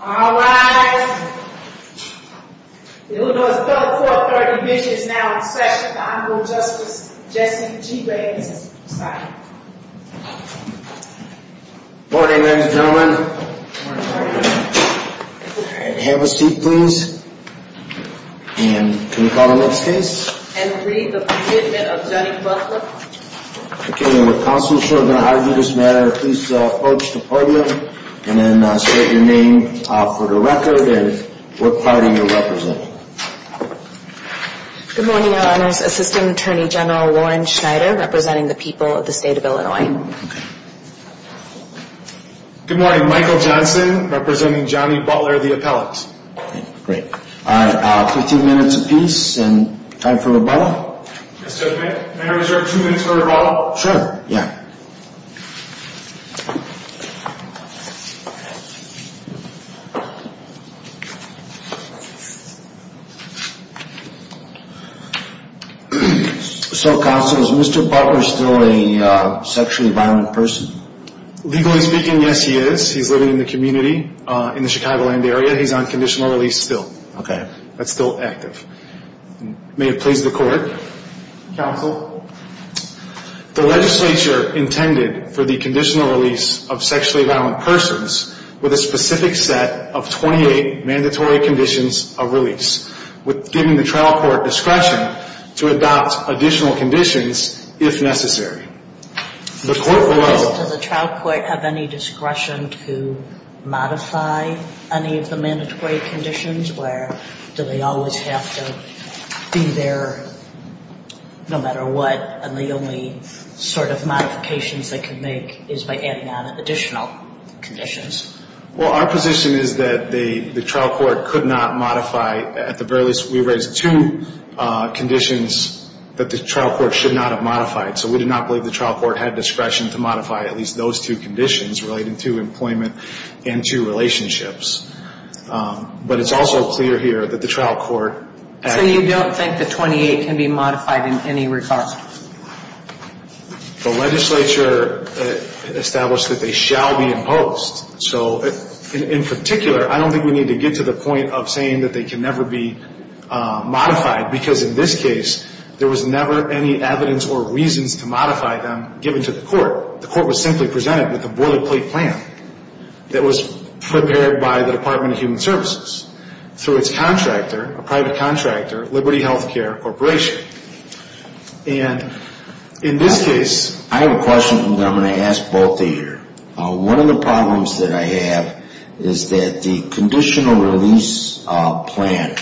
Alright, it was about four thirty minutes now in session for Honorable Justice Jessie G. Ray and Assistant Prosecutor. Good morning ladies and gentlemen. Have a seat please. And can we call the next case? And read the Commitment of Johnny Butler. Okay, with counsel sure going to argue this matter, please approach the podium and then state your name for the record and what party you're representing. Good morning, Your Honors. Assistant Attorney General Warren Schneider representing the people of the state of Illinois. Good morning, Michael Johnson representing Johnny Butler, the appellant. Great. Alright, fifteen minutes apiece and time for rebuttal. Mr. Chairman, may I reserve two minutes for rebuttal? Sure, yeah. So counsel, is Mr. Butler still a sexually violent person? Legally speaking, yes he is. He's living in the community in the Chicagoland area. He's on conditional release still. Okay, that's still active. May it please the court? Counsel, the legislature intended for the conditional release of sexually violent persons with a specific set of twenty-eight mandatory conditions of release, with giving the trial court discretion to adopt additional conditions if necessary. Does the trial court have any discretion to modify any of the mandatory conditions? Where do they always have to be there no matter what and the only sort of modifications they can make is by adding on additional conditions? Well, our position is that the trial court could not modify. At the very least, we raised two conditions that the trial court should not have modified. So we do not believe the trial court had discretion to modify at least those two conditions relating to employment and to relationships. But it's also clear here that the trial court... So you don't think the twenty-eight can be modified in any regard? The legislature established that they shall be imposed. So in particular, I don't think we need to get to the point of saying that they can never be modified because in this case, there was never any evidence or reasons to modify them given to the court. The court was simply presented with a boilerplate plan that was prepared by the Department of Human Services through its contractor, a private contractor, Liberty Healthcare Corporation. And in this case... I have a question that I'm going to ask both of you. One of the problems that I have is that the conditional release plan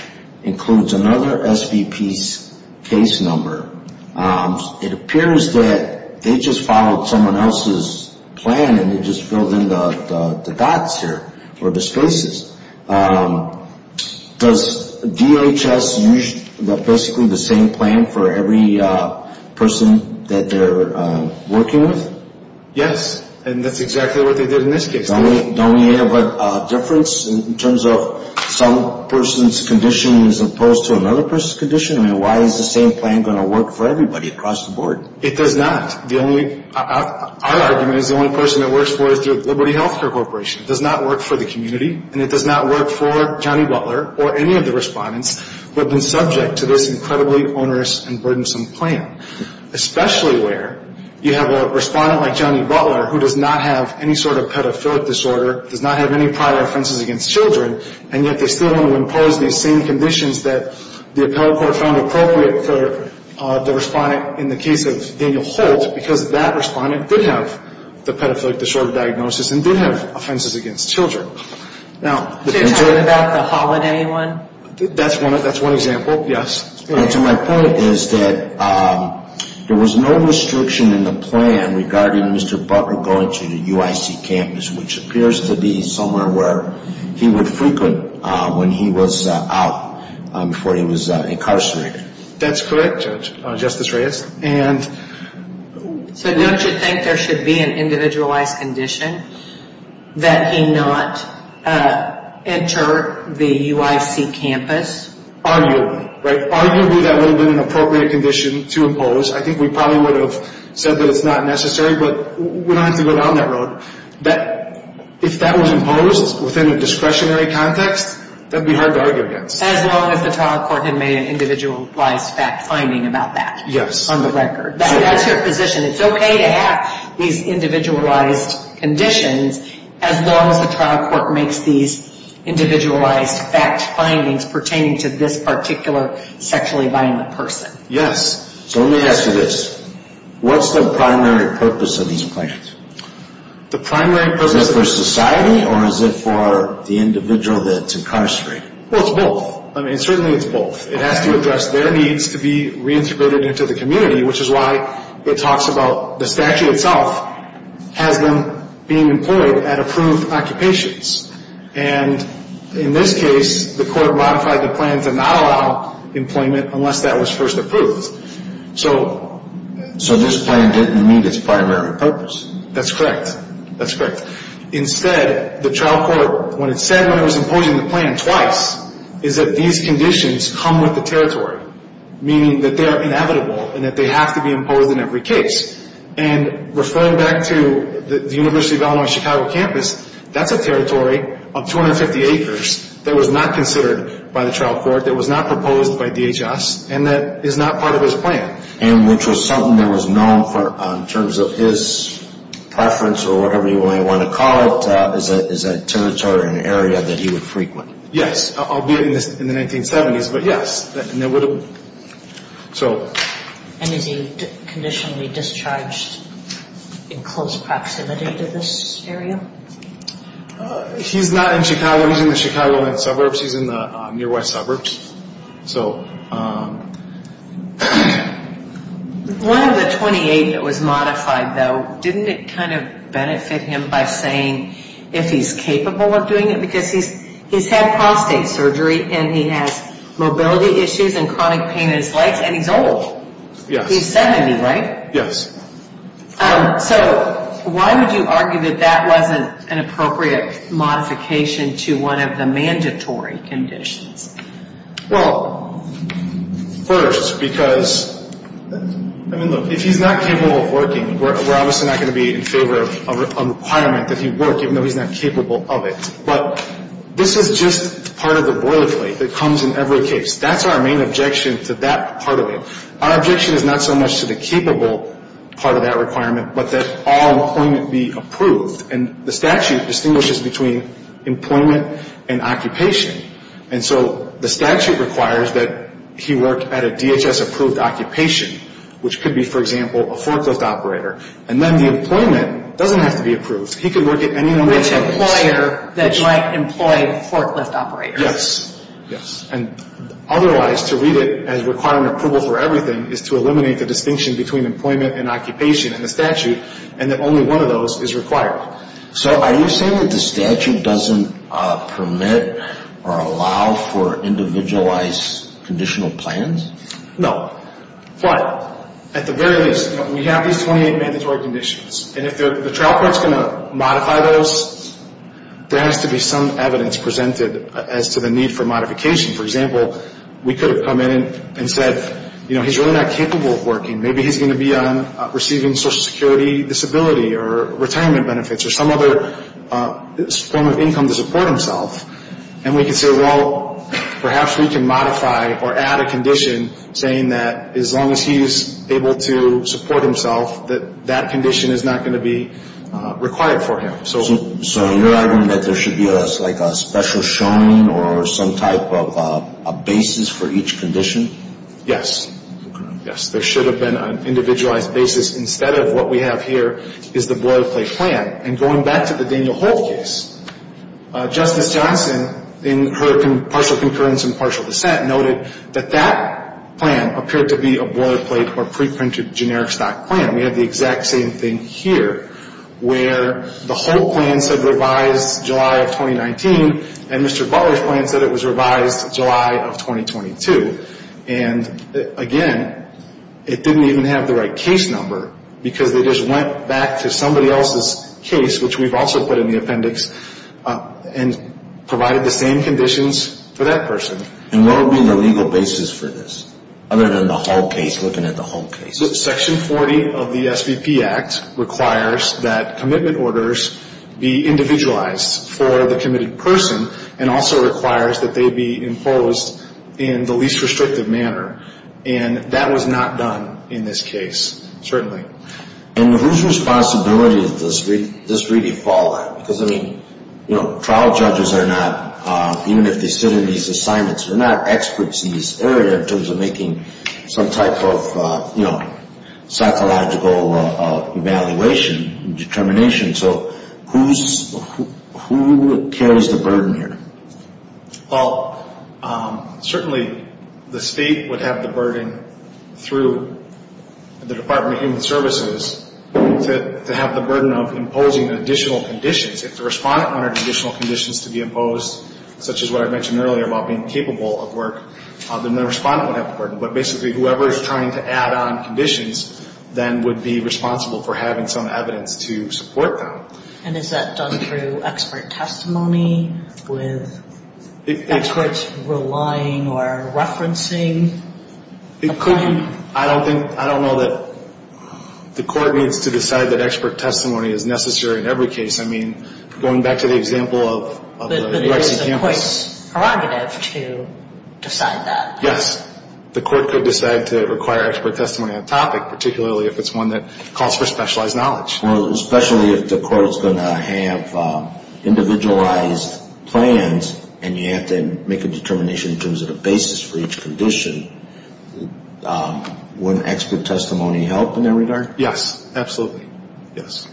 includes another SVP's case number. It appears that they just followed someone else's plan and they just filled in the dots here or the spaces. Does DHS use basically the same plan for every person that they're working with? Yes, and that's exactly what they did in this case. Don't we have a difference in terms of some person's condition as opposed to another person's condition? I mean, why is the same plan going to work for everybody across the board? It does not. Our argument is the only person it works for is through Liberty Healthcare Corporation. It does not work for the community, and it does not work for Johnny Butler or any of the respondents who have been subject to this incredibly onerous and burdensome plan, especially where you have a respondent like Johnny Butler who does not have any sort of pedophilic disorder, does not have any prior offenses against children, and yet they still want to impose these same conditions that the appellate court found appropriate for the respondent in the case of Daniel Holt because that respondent did have the pedophilic disorder diagnosis and did have offenses against children. Now... Are you talking about the holiday one? That's one example, yes. To my point is that there was no restriction in the plan regarding Mr. Butler going to the UIC campus, which appears to be somewhere where he would frequent when he was out before he was incarcerated. That's correct, Justice Reyes. And... So don't you think there should be an individualized condition that he not enter the UIC campus? Arguably, right? Arguably that would have been an appropriate condition to impose. I think we probably would have said that it's not necessary, but we don't have to go down that road. If that was imposed within a discretionary context, that would be hard to argue against. As long as the trial court had made an individualized fact finding about that. Yes. On the record. That's your position. It's okay to have these individualized conditions as long as the trial court makes these individualized fact findings pertaining to this particular sexually violent person. Yes. So let me ask you this. What's the primary purpose of these plans? The primary purpose... Is it for society or is it for the individual that's incarcerated? Well, it's both. I mean, certainly it's both. It has to address their needs to be reintegrated into the community, which is why it talks about the statute itself has them being employed at approved occupations. And in this case, the court modified the plan to not allow employment unless that was first approved. So this plan didn't meet its primary purpose? That's correct. That's correct. Instead, the trial court, when it said when it was imposing the plan twice, is that these conditions come with the territory, meaning that they are inevitable and that they have to be imposed in every case. And referring back to the University of Illinois Chicago campus, that's a territory of 250 acres that was not considered by the trial court, that was not proposed by DHS, and that is not part of his plan. And which was something that was known in terms of his preference or whatever you might want to call it as a territory or an area that he would frequent. Yes, albeit in the 1970s, but yes. And is he conditionally discharged in close proximity to this area? He's not in Chicago. He's in the Chicago suburbs. He's in the near west suburbs. One of the 28 that was modified, though, didn't it kind of benefit him by saying if he's capable of doing it? Because he's had prostate surgery, and he has mobility issues and chronic pain in his legs, and he's old. Yes. He's 70, right? Yes. So why would you argue that that wasn't an appropriate modification to one of the mandatory conditions? Well, first, because, I mean, look, if he's not capable of working, we're obviously not going to be in favor of a requirement that he work, even though he's not capable of it. But this is just part of the boilerplate that comes in every case. That's our main objection to that part of it. Our objection is not so much to the capable part of that requirement, but that all employment be approved. And the statute distinguishes between employment and occupation. And so the statute requires that he work at a DHS-approved occupation, which could be, for example, a forklift operator. And then the employment doesn't have to be approved. He could work at any number of occupations. It's an employer that might employ a forklift operator. Yes. Yes. And otherwise, to read it as requiring approval for everything is to eliminate the distinction between employment and occupation in the statute, and that only one of those is required. So are you saying that the statute doesn't permit or allow for individualized conditional plans? No. But at the very least, we have these 28 mandatory conditions. And if the trial court is going to modify those, there has to be some evidence presented as to the need for modification. For example, we could have come in and said, you know, he's really not capable of working. Maybe he's going to be on receiving Social Security disability or retirement benefits or some other form of income to support himself. And we could say, well, perhaps we can modify or add a condition saying that as long as he's able to support himself, that that condition is not going to be required for him. So you're arguing that there should be like a special showing or some type of basis for each condition? Yes. Okay. Yes. There should have been an individualized basis instead of what we have here is the boilerplate plan. And going back to the Daniel Holt case, Justice Johnson, in her partial concurrence and partial dissent, noted that that plan appeared to be a boilerplate or preprinted generic stock plan. We have the exact same thing here where the Holt plan said revised July of 2019 and Mr. Butler's plan said it was revised July of 2022. And, again, it didn't even have the right case number because they just went back to somebody else's case, which we've also put in the appendix, and provided the same conditions for that person. And what would be the legal basis for this other than the Holt case, looking at the Holt case? Section 40 of the SVP Act requires that commitment orders be individualized for the committed person and also requires that they be imposed in the least restrictive manner. And that was not done in this case, certainly. And whose responsibility does this really fall on? Because, I mean, you know, trial judges are not, even if they sit in these assignments, they're not experts in this area in terms of making some type of, you know, psychological evaluation and determination. So who carries the burden here? Well, certainly the state would have the burden through the Department of Human Services to have the burden of imposing additional conditions if the respondent wanted additional conditions to be imposed, such as what I mentioned earlier about being capable of work. Then the respondent would have the burden. But basically whoever is trying to add on conditions then would be responsible for having some evidence to support them. And is that done through expert testimony with experts relying or referencing a claim? It could be. I don't think, I don't know that the court needs to decide that expert testimony is necessary in every case. I mean, going back to the example of the Lexington campus. But it is a court's prerogative to decide that. Yes. The court could decide to require expert testimony on a topic, particularly if it's one that calls for specialized knowledge. Well, especially if the court is going to have individualized plans and you have to make a determination in terms of the basis for each condition, wouldn't expert testimony help in that regard? Yes. Absolutely. Yes.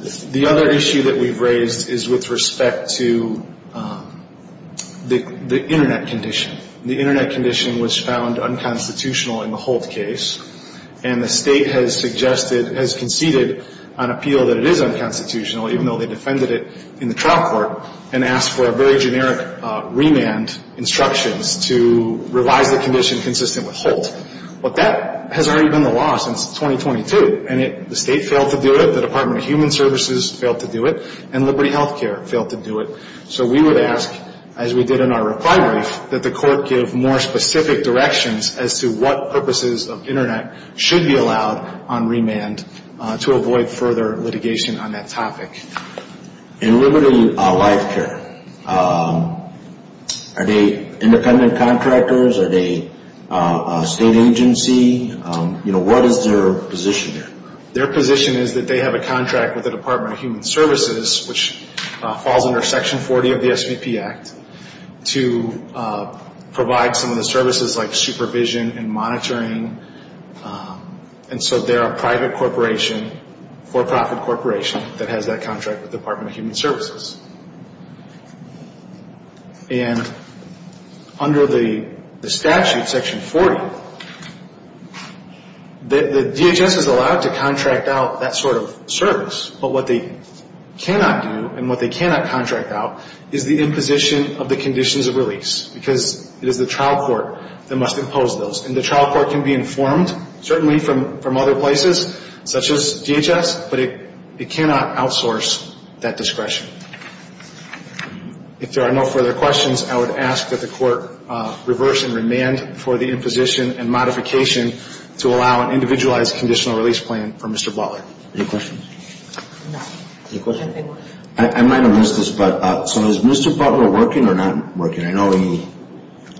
The other issue that we've raised is with respect to the Internet condition. The Internet condition was found unconstitutional in the Holt case. And the state has suggested, has conceded on appeal that it is unconstitutional, even though they defended it in the trial court, and asked for a very generic remand instructions to revise the condition consistent with Holt. But that has already been the law since 2022. And the state failed to do it. The Department of Human Services failed to do it. And Liberty Health Care failed to do it. So we would ask, as we did in our reprimary, that the court give more specific directions as to what purposes of Internet should be allowed on remand to avoid further litigation on that topic. And Liberty Life Care, are they independent contractors? Are they a state agency? You know, what is their position there? Their position is that they have a contract with the Department of Human Services, which falls under Section 40 of the SVP Act, to provide some of the services like supervision and monitoring. And so they're a private corporation, for-profit corporation, that has that contract with the Department of Human Services. And under the statute, Section 40, the DHS is allowed to contract out that sort of service. But what they cannot do and what they cannot contract out is the imposition of the conditions of release, because it is the trial court that must impose those. And the trial court can be informed, certainly from other places, such as DHS, but it cannot outsource that discretion. If there are no further questions, I would ask that the court reverse in remand for the imposition and modification to allow an individualized conditional release plan for Mr. Butler. Any questions? No. Any questions? I might have missed this, but so is Mr. Butler working or not working? I know he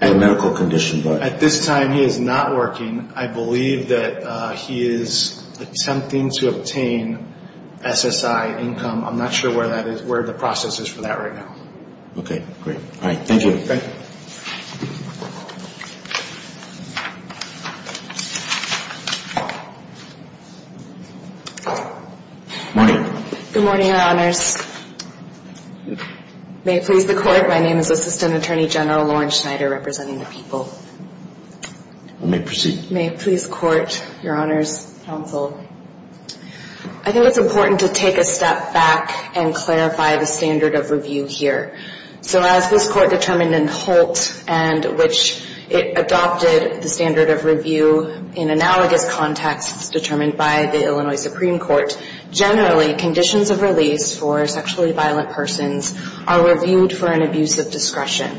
had medical conditions. At this time, he is not working. I believe that he is attempting to obtain SSI income. I'm not sure where the process is for that right now. Okay. Great. All right. Thank you. Okay. Morning. Good morning, Your Honors. May it please the Court, my name is Assistant Attorney General Lauren Schneider representing the people. You may proceed. May it please the Court, Your Honors, Counsel, I think it's important to take a step back and clarify the standard of review here. So as this Court determined in Holt and which it adopted the standard of review in analogous contexts determined by the Illinois Supreme Court, generally conditions of release for sexually violent persons are reviewed for an abuse of discretion.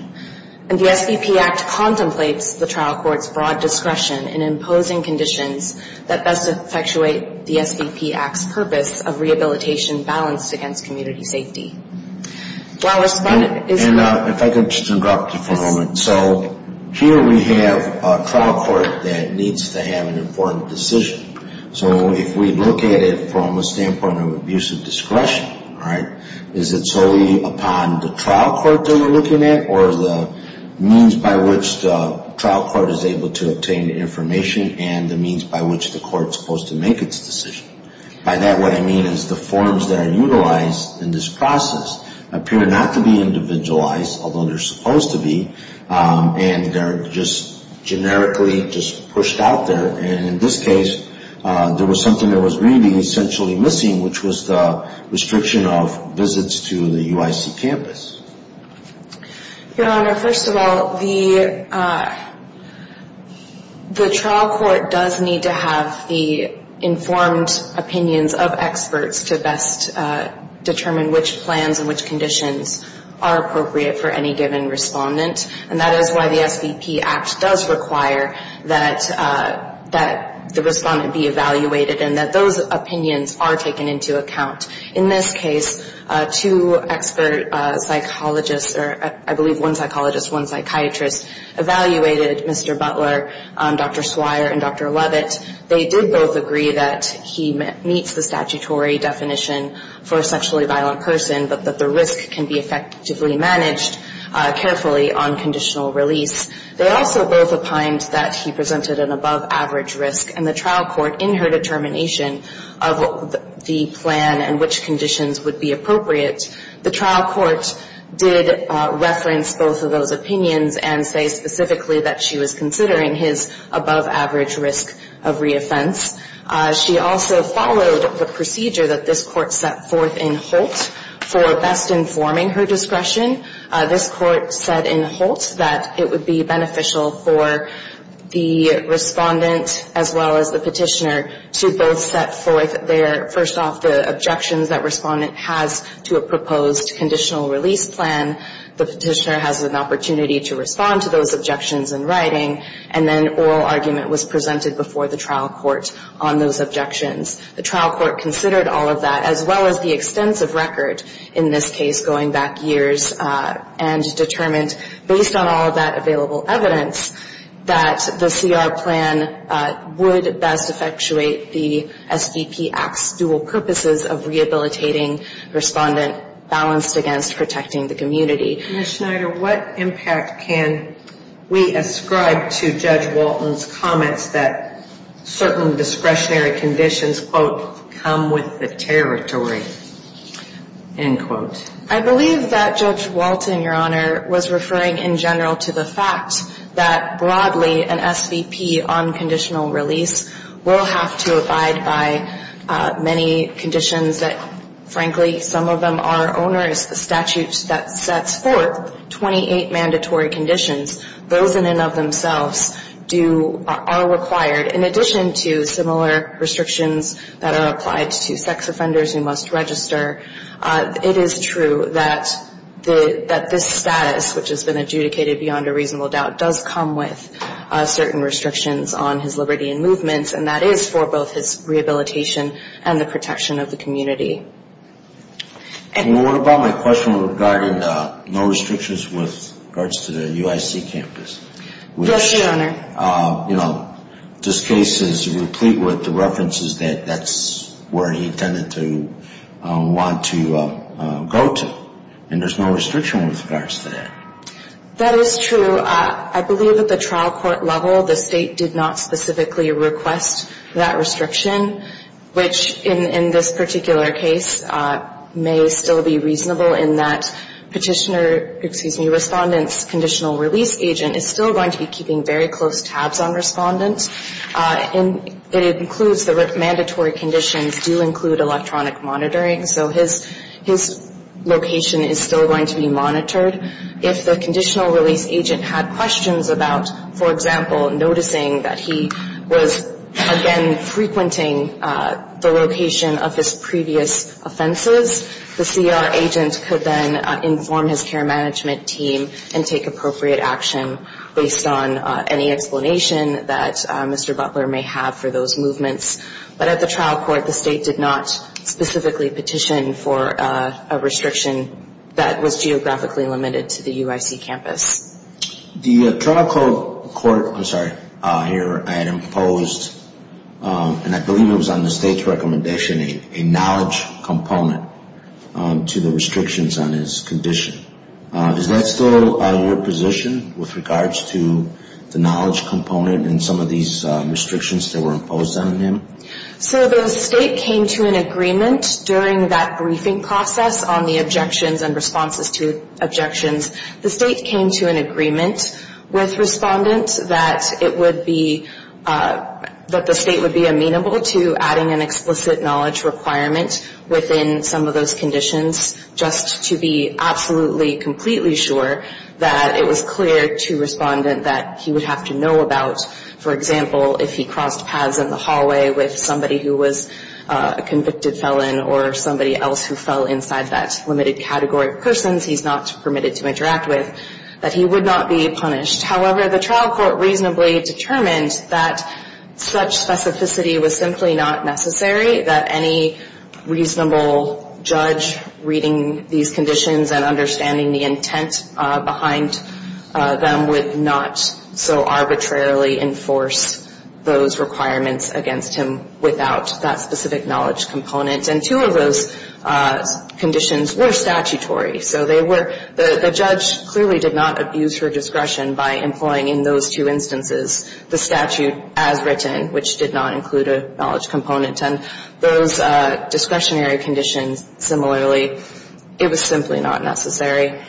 And the SVP Act contemplates the trial court's broad discretion in imposing conditions that best effectuate the SVP Act's purpose of rehabilitation balanced against community safety. While respondent is And if I could just interrupt you for a moment. So here we have a trial court that needs to have an important decision. So if we look at it from a standpoint of abuse of discretion, all right, is it solely upon the trial court that we're looking at or the means by which the trial court is able to obtain the information and the means by which the court is supposed to make its decision? By that, what I mean is the forms that are utilized in this process appear not to be individualized, although they're supposed to be, and they're just generically just pushed out there. And in this case, there was something that was really essentially missing, which was the restriction of visits to the UIC campus. Your Honor, first of all, the trial court does need to have the informed opinions of experts to best determine which plans and which conditions are appropriate for any given respondent. And that is why the SVP Act does require that the respondent be evaluated and that those opinions are taken into account. In this case, two expert psychologists, or I believe one psychologist, one psychiatrist, evaluated Mr. Butler, Dr. Swire, and Dr. Levitt. They did both agree that he meets the statutory definition for a sexually violent person, but that the risk can be effectively managed carefully on conditional release. They also both opined that he presented an above-average risk, and the trial court, in her determination of the plan and which conditions would be appropriate, the trial court did reference both of those opinions and say specifically that she was considering his above-average risk of reoffense. She also followed the procedure that this court set forth in Holt for best informing her discretion. This court said in Holt that it would be beneficial for the respondent as well as the petitioner to both set forth their, first off, the objections that respondent has to a proposed conditional release plan. The petitioner has an opportunity to respond to those objections in writing, and then oral argument was presented before the trial court on those objections. The trial court considered all of that, as well as the extensive record in this case going back years, and determined, based on all of that available evidence, that the CR plan would best effectuate the SVP Act's dual purposes of rehabilitating respondent balanced against protecting the community. Ms. Schneider, what impact can we ascribe to Judge Walton's comments that certain discretionary conditions, quote, come with the territory, end quote? I believe that Judge Walton, Your Honor, was referring in general to the fact that broadly an SVP on conditional release will have to abide by many conditions that, frankly, some of them are onerous. The statute that sets forth 28 mandatory conditions, those in and of themselves are required. In addition to similar restrictions that are applied to sex offenders who must register, it is true that this status, which has been adjudicated beyond a reasonable doubt, does come with certain restrictions on his liberty in movement, and that is for both his rehabilitation and the protection of the community. And what about my question regarding no restrictions with regards to the UIC campus? Yes, Your Honor. You know, this case is replete with the references that that's where he intended to want to go to, and there's no restriction with regards to that. That is true. So I believe at the trial court level the State did not specifically request that restriction, which in this particular case may still be reasonable in that Petitioner, excuse me, Respondent's conditional release agent is still going to be keeping very close tabs on Respondent. And it includes the mandatory conditions do include electronic monitoring, if the conditional release agent had questions about, for example, noticing that he was, again, frequenting the location of his previous offenses, the CR agent could then inform his care management team and take appropriate action based on any explanation that Mr. Butler may have for those movements. But at the trial court the State did not specifically petition for a restriction that was geographically limited to the UIC campus. The trial court here had imposed, and I believe it was on the State's recommendation, a knowledge component to the restrictions on his condition. Is that still your position with regards to the knowledge component and some of these restrictions that were imposed on him? So the State came to an agreement during that briefing process on the objections and responses to objections. The State came to an agreement with Respondent that it would be, that the State would be amenable to adding an explicit knowledge requirement within some of those conditions just to be absolutely, completely sure that it was clear to Respondent that he would have to know about, for example, if he crossed paths in the hallway with somebody who was a convicted felon or somebody else who fell inside that limited category of persons he's not permitted to interact with, that he would not be punished. However, the trial court reasonably determined that such specificity was simply not necessary, that any reasonable judge reading these conditions and understanding the intent behind them would not so arbitrarily enforce those requirements against him without that specific knowledge component. And two of those conditions were statutory. So they were, the judge clearly did not abuse her discretion by employing in those two instances the statute as written, which did not include a knowledge component. And those discretionary conditions, similarly, it was simply not necessary.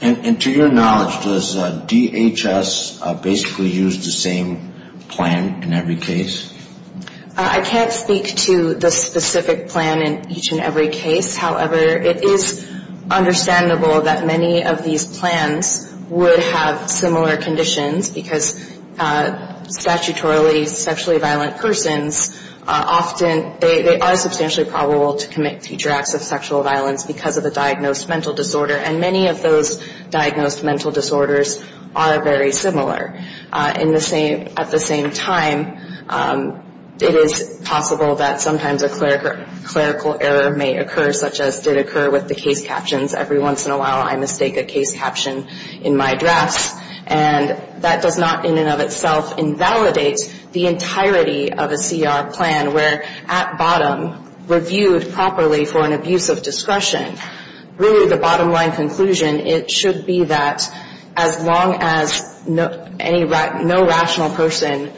And to your knowledge, does DHS basically use the same plan in every case? I can't speak to the specific plan in each and every case. However, it is understandable that many of these plans would have similar conditions because statutorily sexually violent persons often, they are substantially probable to commit future acts of sexual violence because of a diagnosed mental disorder. And many of those diagnosed mental disorders are very similar. At the same time, it is possible that sometimes a clerical error may occur, such as did occur with the case captions. Every once in a while I mistake a case caption in my drafts. And that does not in and of itself invalidate the entirety of a CR plan where at bottom, reviewed properly for an abuse of discretion, really the bottom line conclusion, it should be that as long as no rational person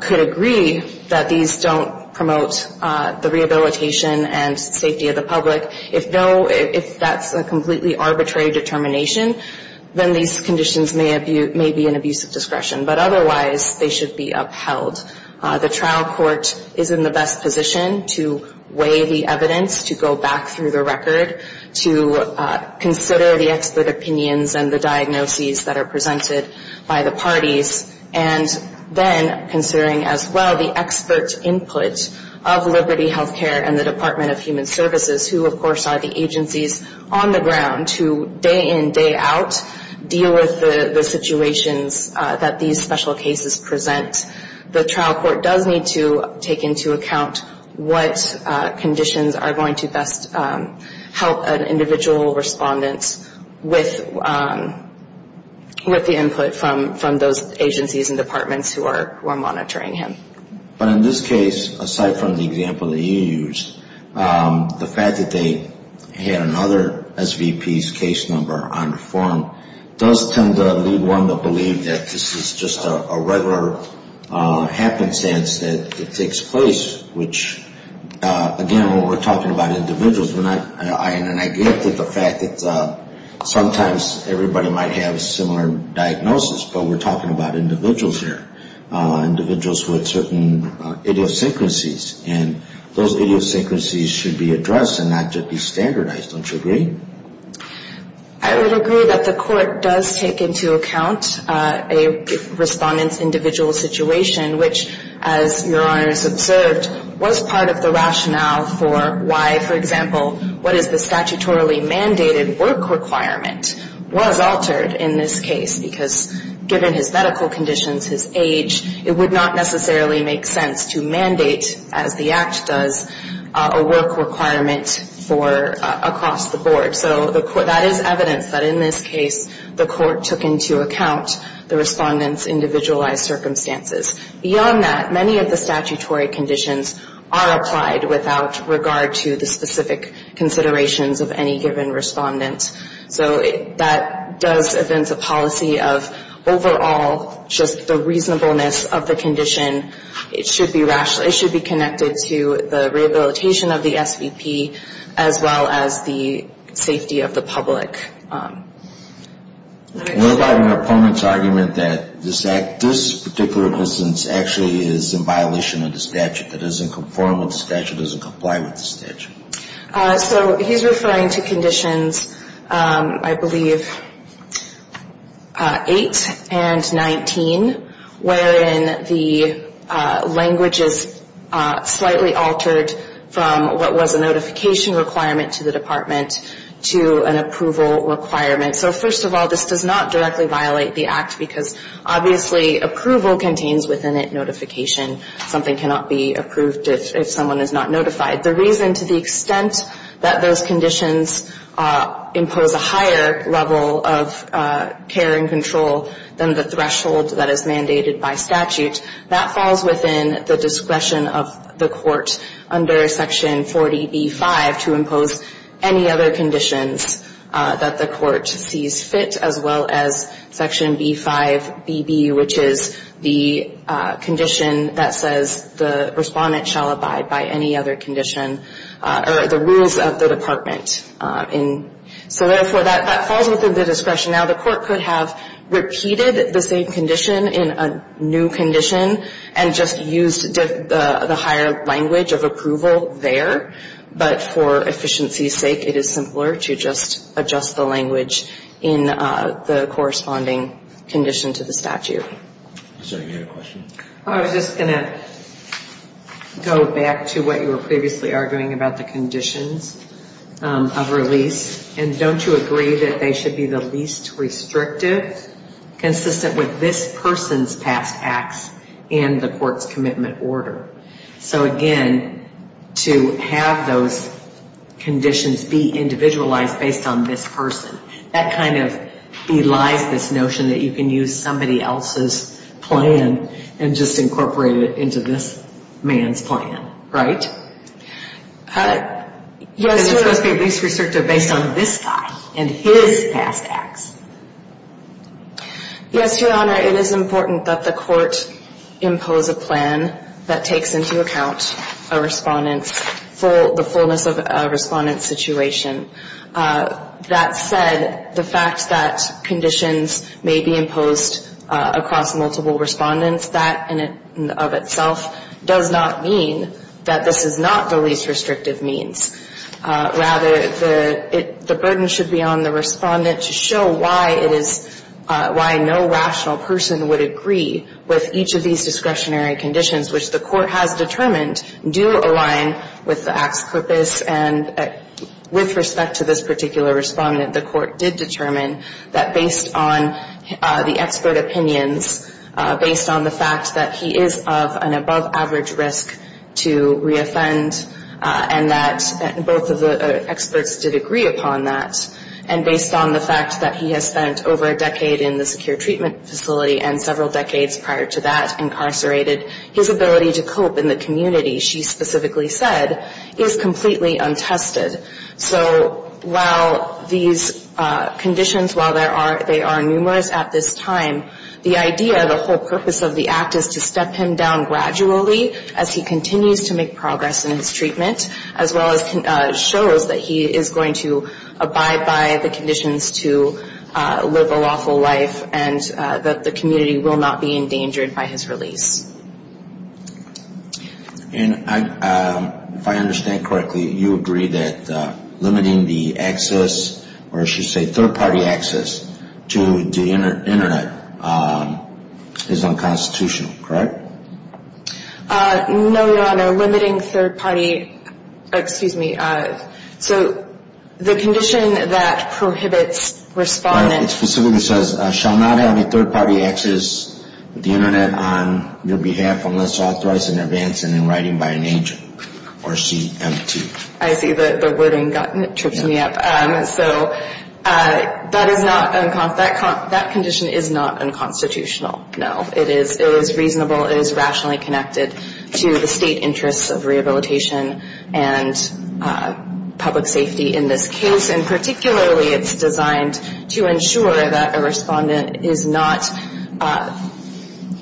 could agree that these don't promote the rehabilitation and safety of the public, if that's a completely arbitrary determination, then these conditions may be an abuse of discretion. But otherwise, they should be upheld. The trial court is in the best position to weigh the evidence, to go back through the record, to consider the expert opinions and the diagnoses that are presented by the parties, and then considering as well the expert input of Liberty Healthcare and the Department of Human Services, who of course are the agencies on the ground to day in, day out, deal with the situations that these special cases present. The trial court does need to take into account what conditions are going to best help an individual respondent with the input from those agencies and departments who are monitoring him. But in this case, aside from the example that you used, the fact that they had another SVP's case number on the form does tend to lead one to believe that this is just a regular happenstance that it takes place, which again, when we're talking about individuals, we're not in an idea with the fact that sometimes everybody might have a similar diagnosis, but we're talking about individuals here, individuals with certain idiosyncrasies, and those idiosyncrasies should be addressed and not just be standardized. Don't you agree? I would agree that the court does take into account a respondent's individual situation, which as your honors observed, was part of the rationale for why, for example, what is the statutorily mandated work requirement was altered in this case, because given his medical conditions, his age, it would not necessarily make sense to mandate, as the Act does, a work requirement for across the board. So that is evidence that in this case the court took into account the respondent's individualized circumstances. Beyond that, many of the statutory conditions are applied without regard to the specific considerations of any given respondent. So that does evidence a policy of overall just the reasonableness of the condition. It should be connected to the rehabilitation of the SVP as well as the safety of the public. What about your opponent's argument that this particular instance actually is in violation of the statute? It doesn't conform with the statute. It doesn't comply with the statute. So he's referring to conditions, I believe, 8 and 19, wherein the language is slightly altered from what was a notification requirement to the department to an approval requirement. So first of all, this does not directly violate the Act, because obviously approval contains within it notification. Something cannot be approved if someone is not notified. The reason to the extent that those conditions impose a higher level of care and control than the threshold that is mandated by statute, that falls within the discretion of the court under Section 40B-5 to impose any other conditions that the court sees fit, as well as Section B-5BB, which is the condition that says the respondent shall abide by any other condition or the rules of the department. So therefore, that falls within the discretion. Now, the court could have repeated the same condition in a new condition and just used the higher language of approval there. But for efficiency's sake, it is simpler to just adjust the language in the corresponding condition to the statute. I'm sorry, you had a question? I was just going to go back to what you were previously arguing about the conditions of release. And don't you agree that they should be the least restrictive, consistent with this person's past acts and the court's commitment order? So again, to have those conditions be individualized based on this person, that kind of belies this notion that you can use somebody else's plan and just incorporate it into this man's plan, right? Yes, Your Honor. And it must be at least restrictive based on this guy and his past acts. Yes, Your Honor. It is important that the court impose a plan that takes into account a respondent's full ñ the fullness of a respondent's situation. That said, the fact that conditions may be imposed across multiple respondents, that in and of itself does not mean that this is not the least restrictive means. Rather, the burden should be on the respondent to show why it is ñ why no rational person would agree with each of these discretionary conditions, which the court has determined do align with the act's purpose. And with respect to this particular respondent, the court did determine that based on the expert opinions, based on the fact that he is of an above-average risk to re-offend, and that both of the experts did agree upon that. And based on the fact that he has spent over a decade in the secure treatment facility and several decades prior to that incarcerated, his ability to cope in the community, she specifically said, is completely untested. So while these conditions, while they are numerous at this time, the idea, the whole purpose of the act, is to step him down gradually as he continues to make progress in his treatment, as well as shows that he is going to abide by the conditions to live a lawful life and that the community will not be endangered by his release. And if I understand correctly, you agree that limiting the access, or I should say third-party access, to the Internet is unconstitutional, correct? No, Your Honor. Limiting third-party ñ excuse me. So the condition that prohibits respondent ñ on their behalf, unless authorized in advance and in writing by an agent, or CMT. I see the wording tripped me up. So that is not unconstitutional. That condition is not unconstitutional, no. It is reasonable. It is rationally connected to the state interests of rehabilitation and public safety in this case. And particularly, it is designed to ensure that a respondent is not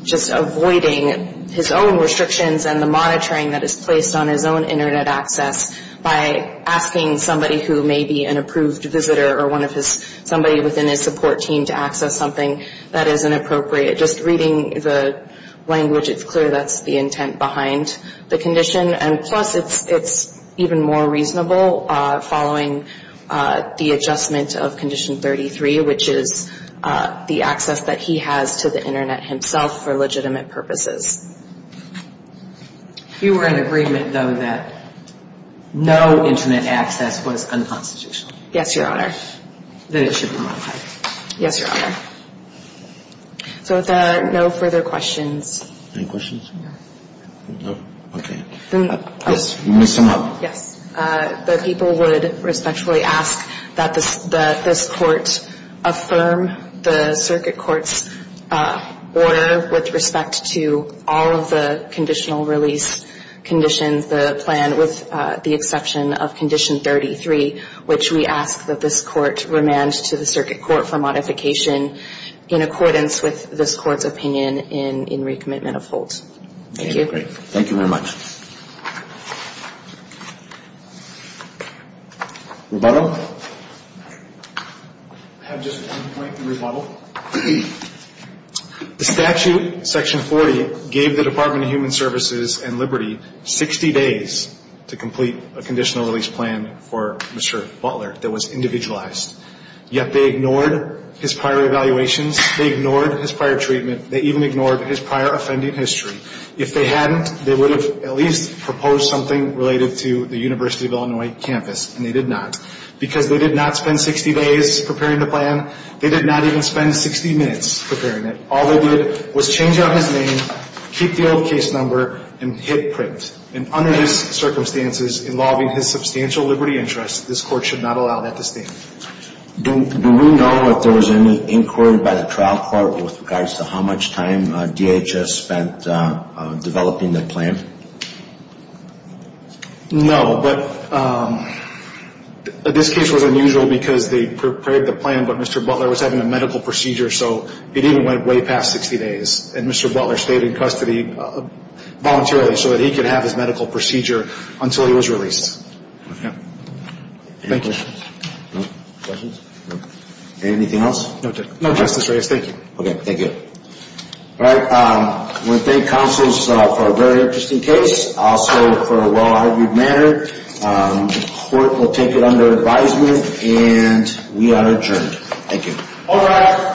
just avoiding his own restrictions and the monitoring that is placed on his own Internet access by asking somebody who may be an approved visitor or somebody within his support team to access something that is inappropriate. Just reading the language, it is clear that is the intent behind the condition. And plus, it is even more reasonable following the adjustment of Condition 33, which is the access that he has to the Internet himself for legitimate purposes. You were in agreement, though, that no Internet access was unconstitutional? Yes, Your Honor. Then it should be modified. Yes, Your Honor. So no further questions. Any questions? No. Okay. Ms. Simlop. Yes. The people would respectfully ask that this Court affirm the Circuit Court's order with respect to all of the conditional release conditions, the plan, with the exception of Condition 33, which we ask that this Court remand to the Circuit Court for modification in accordance with this Court's opinion in recommitment of Holt. Thank you. Thank you very much. Rebuttal. I have just one point in rebuttal. The statute, Section 40, gave the Department of Human Services and Liberty 60 days to complete a conditional release plan for Mr. Butler that was individualized. Yet they ignored his prior evaluations. They ignored his prior treatment. They even ignored his prior offending history. If they hadn't, they would have at least proposed something related to the University of Illinois campus, and they did not. Because they did not spend 60 days preparing the plan, they did not even spend 60 minutes preparing it. All they did was change out his name, keep the old case number, and hit print. And under these circumstances involving his substantial liberty interests, this Court should not allow that to stand. Do we know if there was any inquiry by the trial court with regards to how much time DHS spent developing the plan? No, but this case was unusual because they prepared the plan, but Mr. Butler was having a medical procedure, so it even went way past 60 days. And Mr. Butler stayed in custody voluntarily so that he could have his medical procedure until he was released. Any questions? No. Questions? No. Anything else? No, Justice Reyes. Thank you. Okay. Thank you. All right. I want to thank counsels for a very interesting case, also for a well-argued matter. The Court will take it under advisement, and we are adjourned. Thank you. All rise.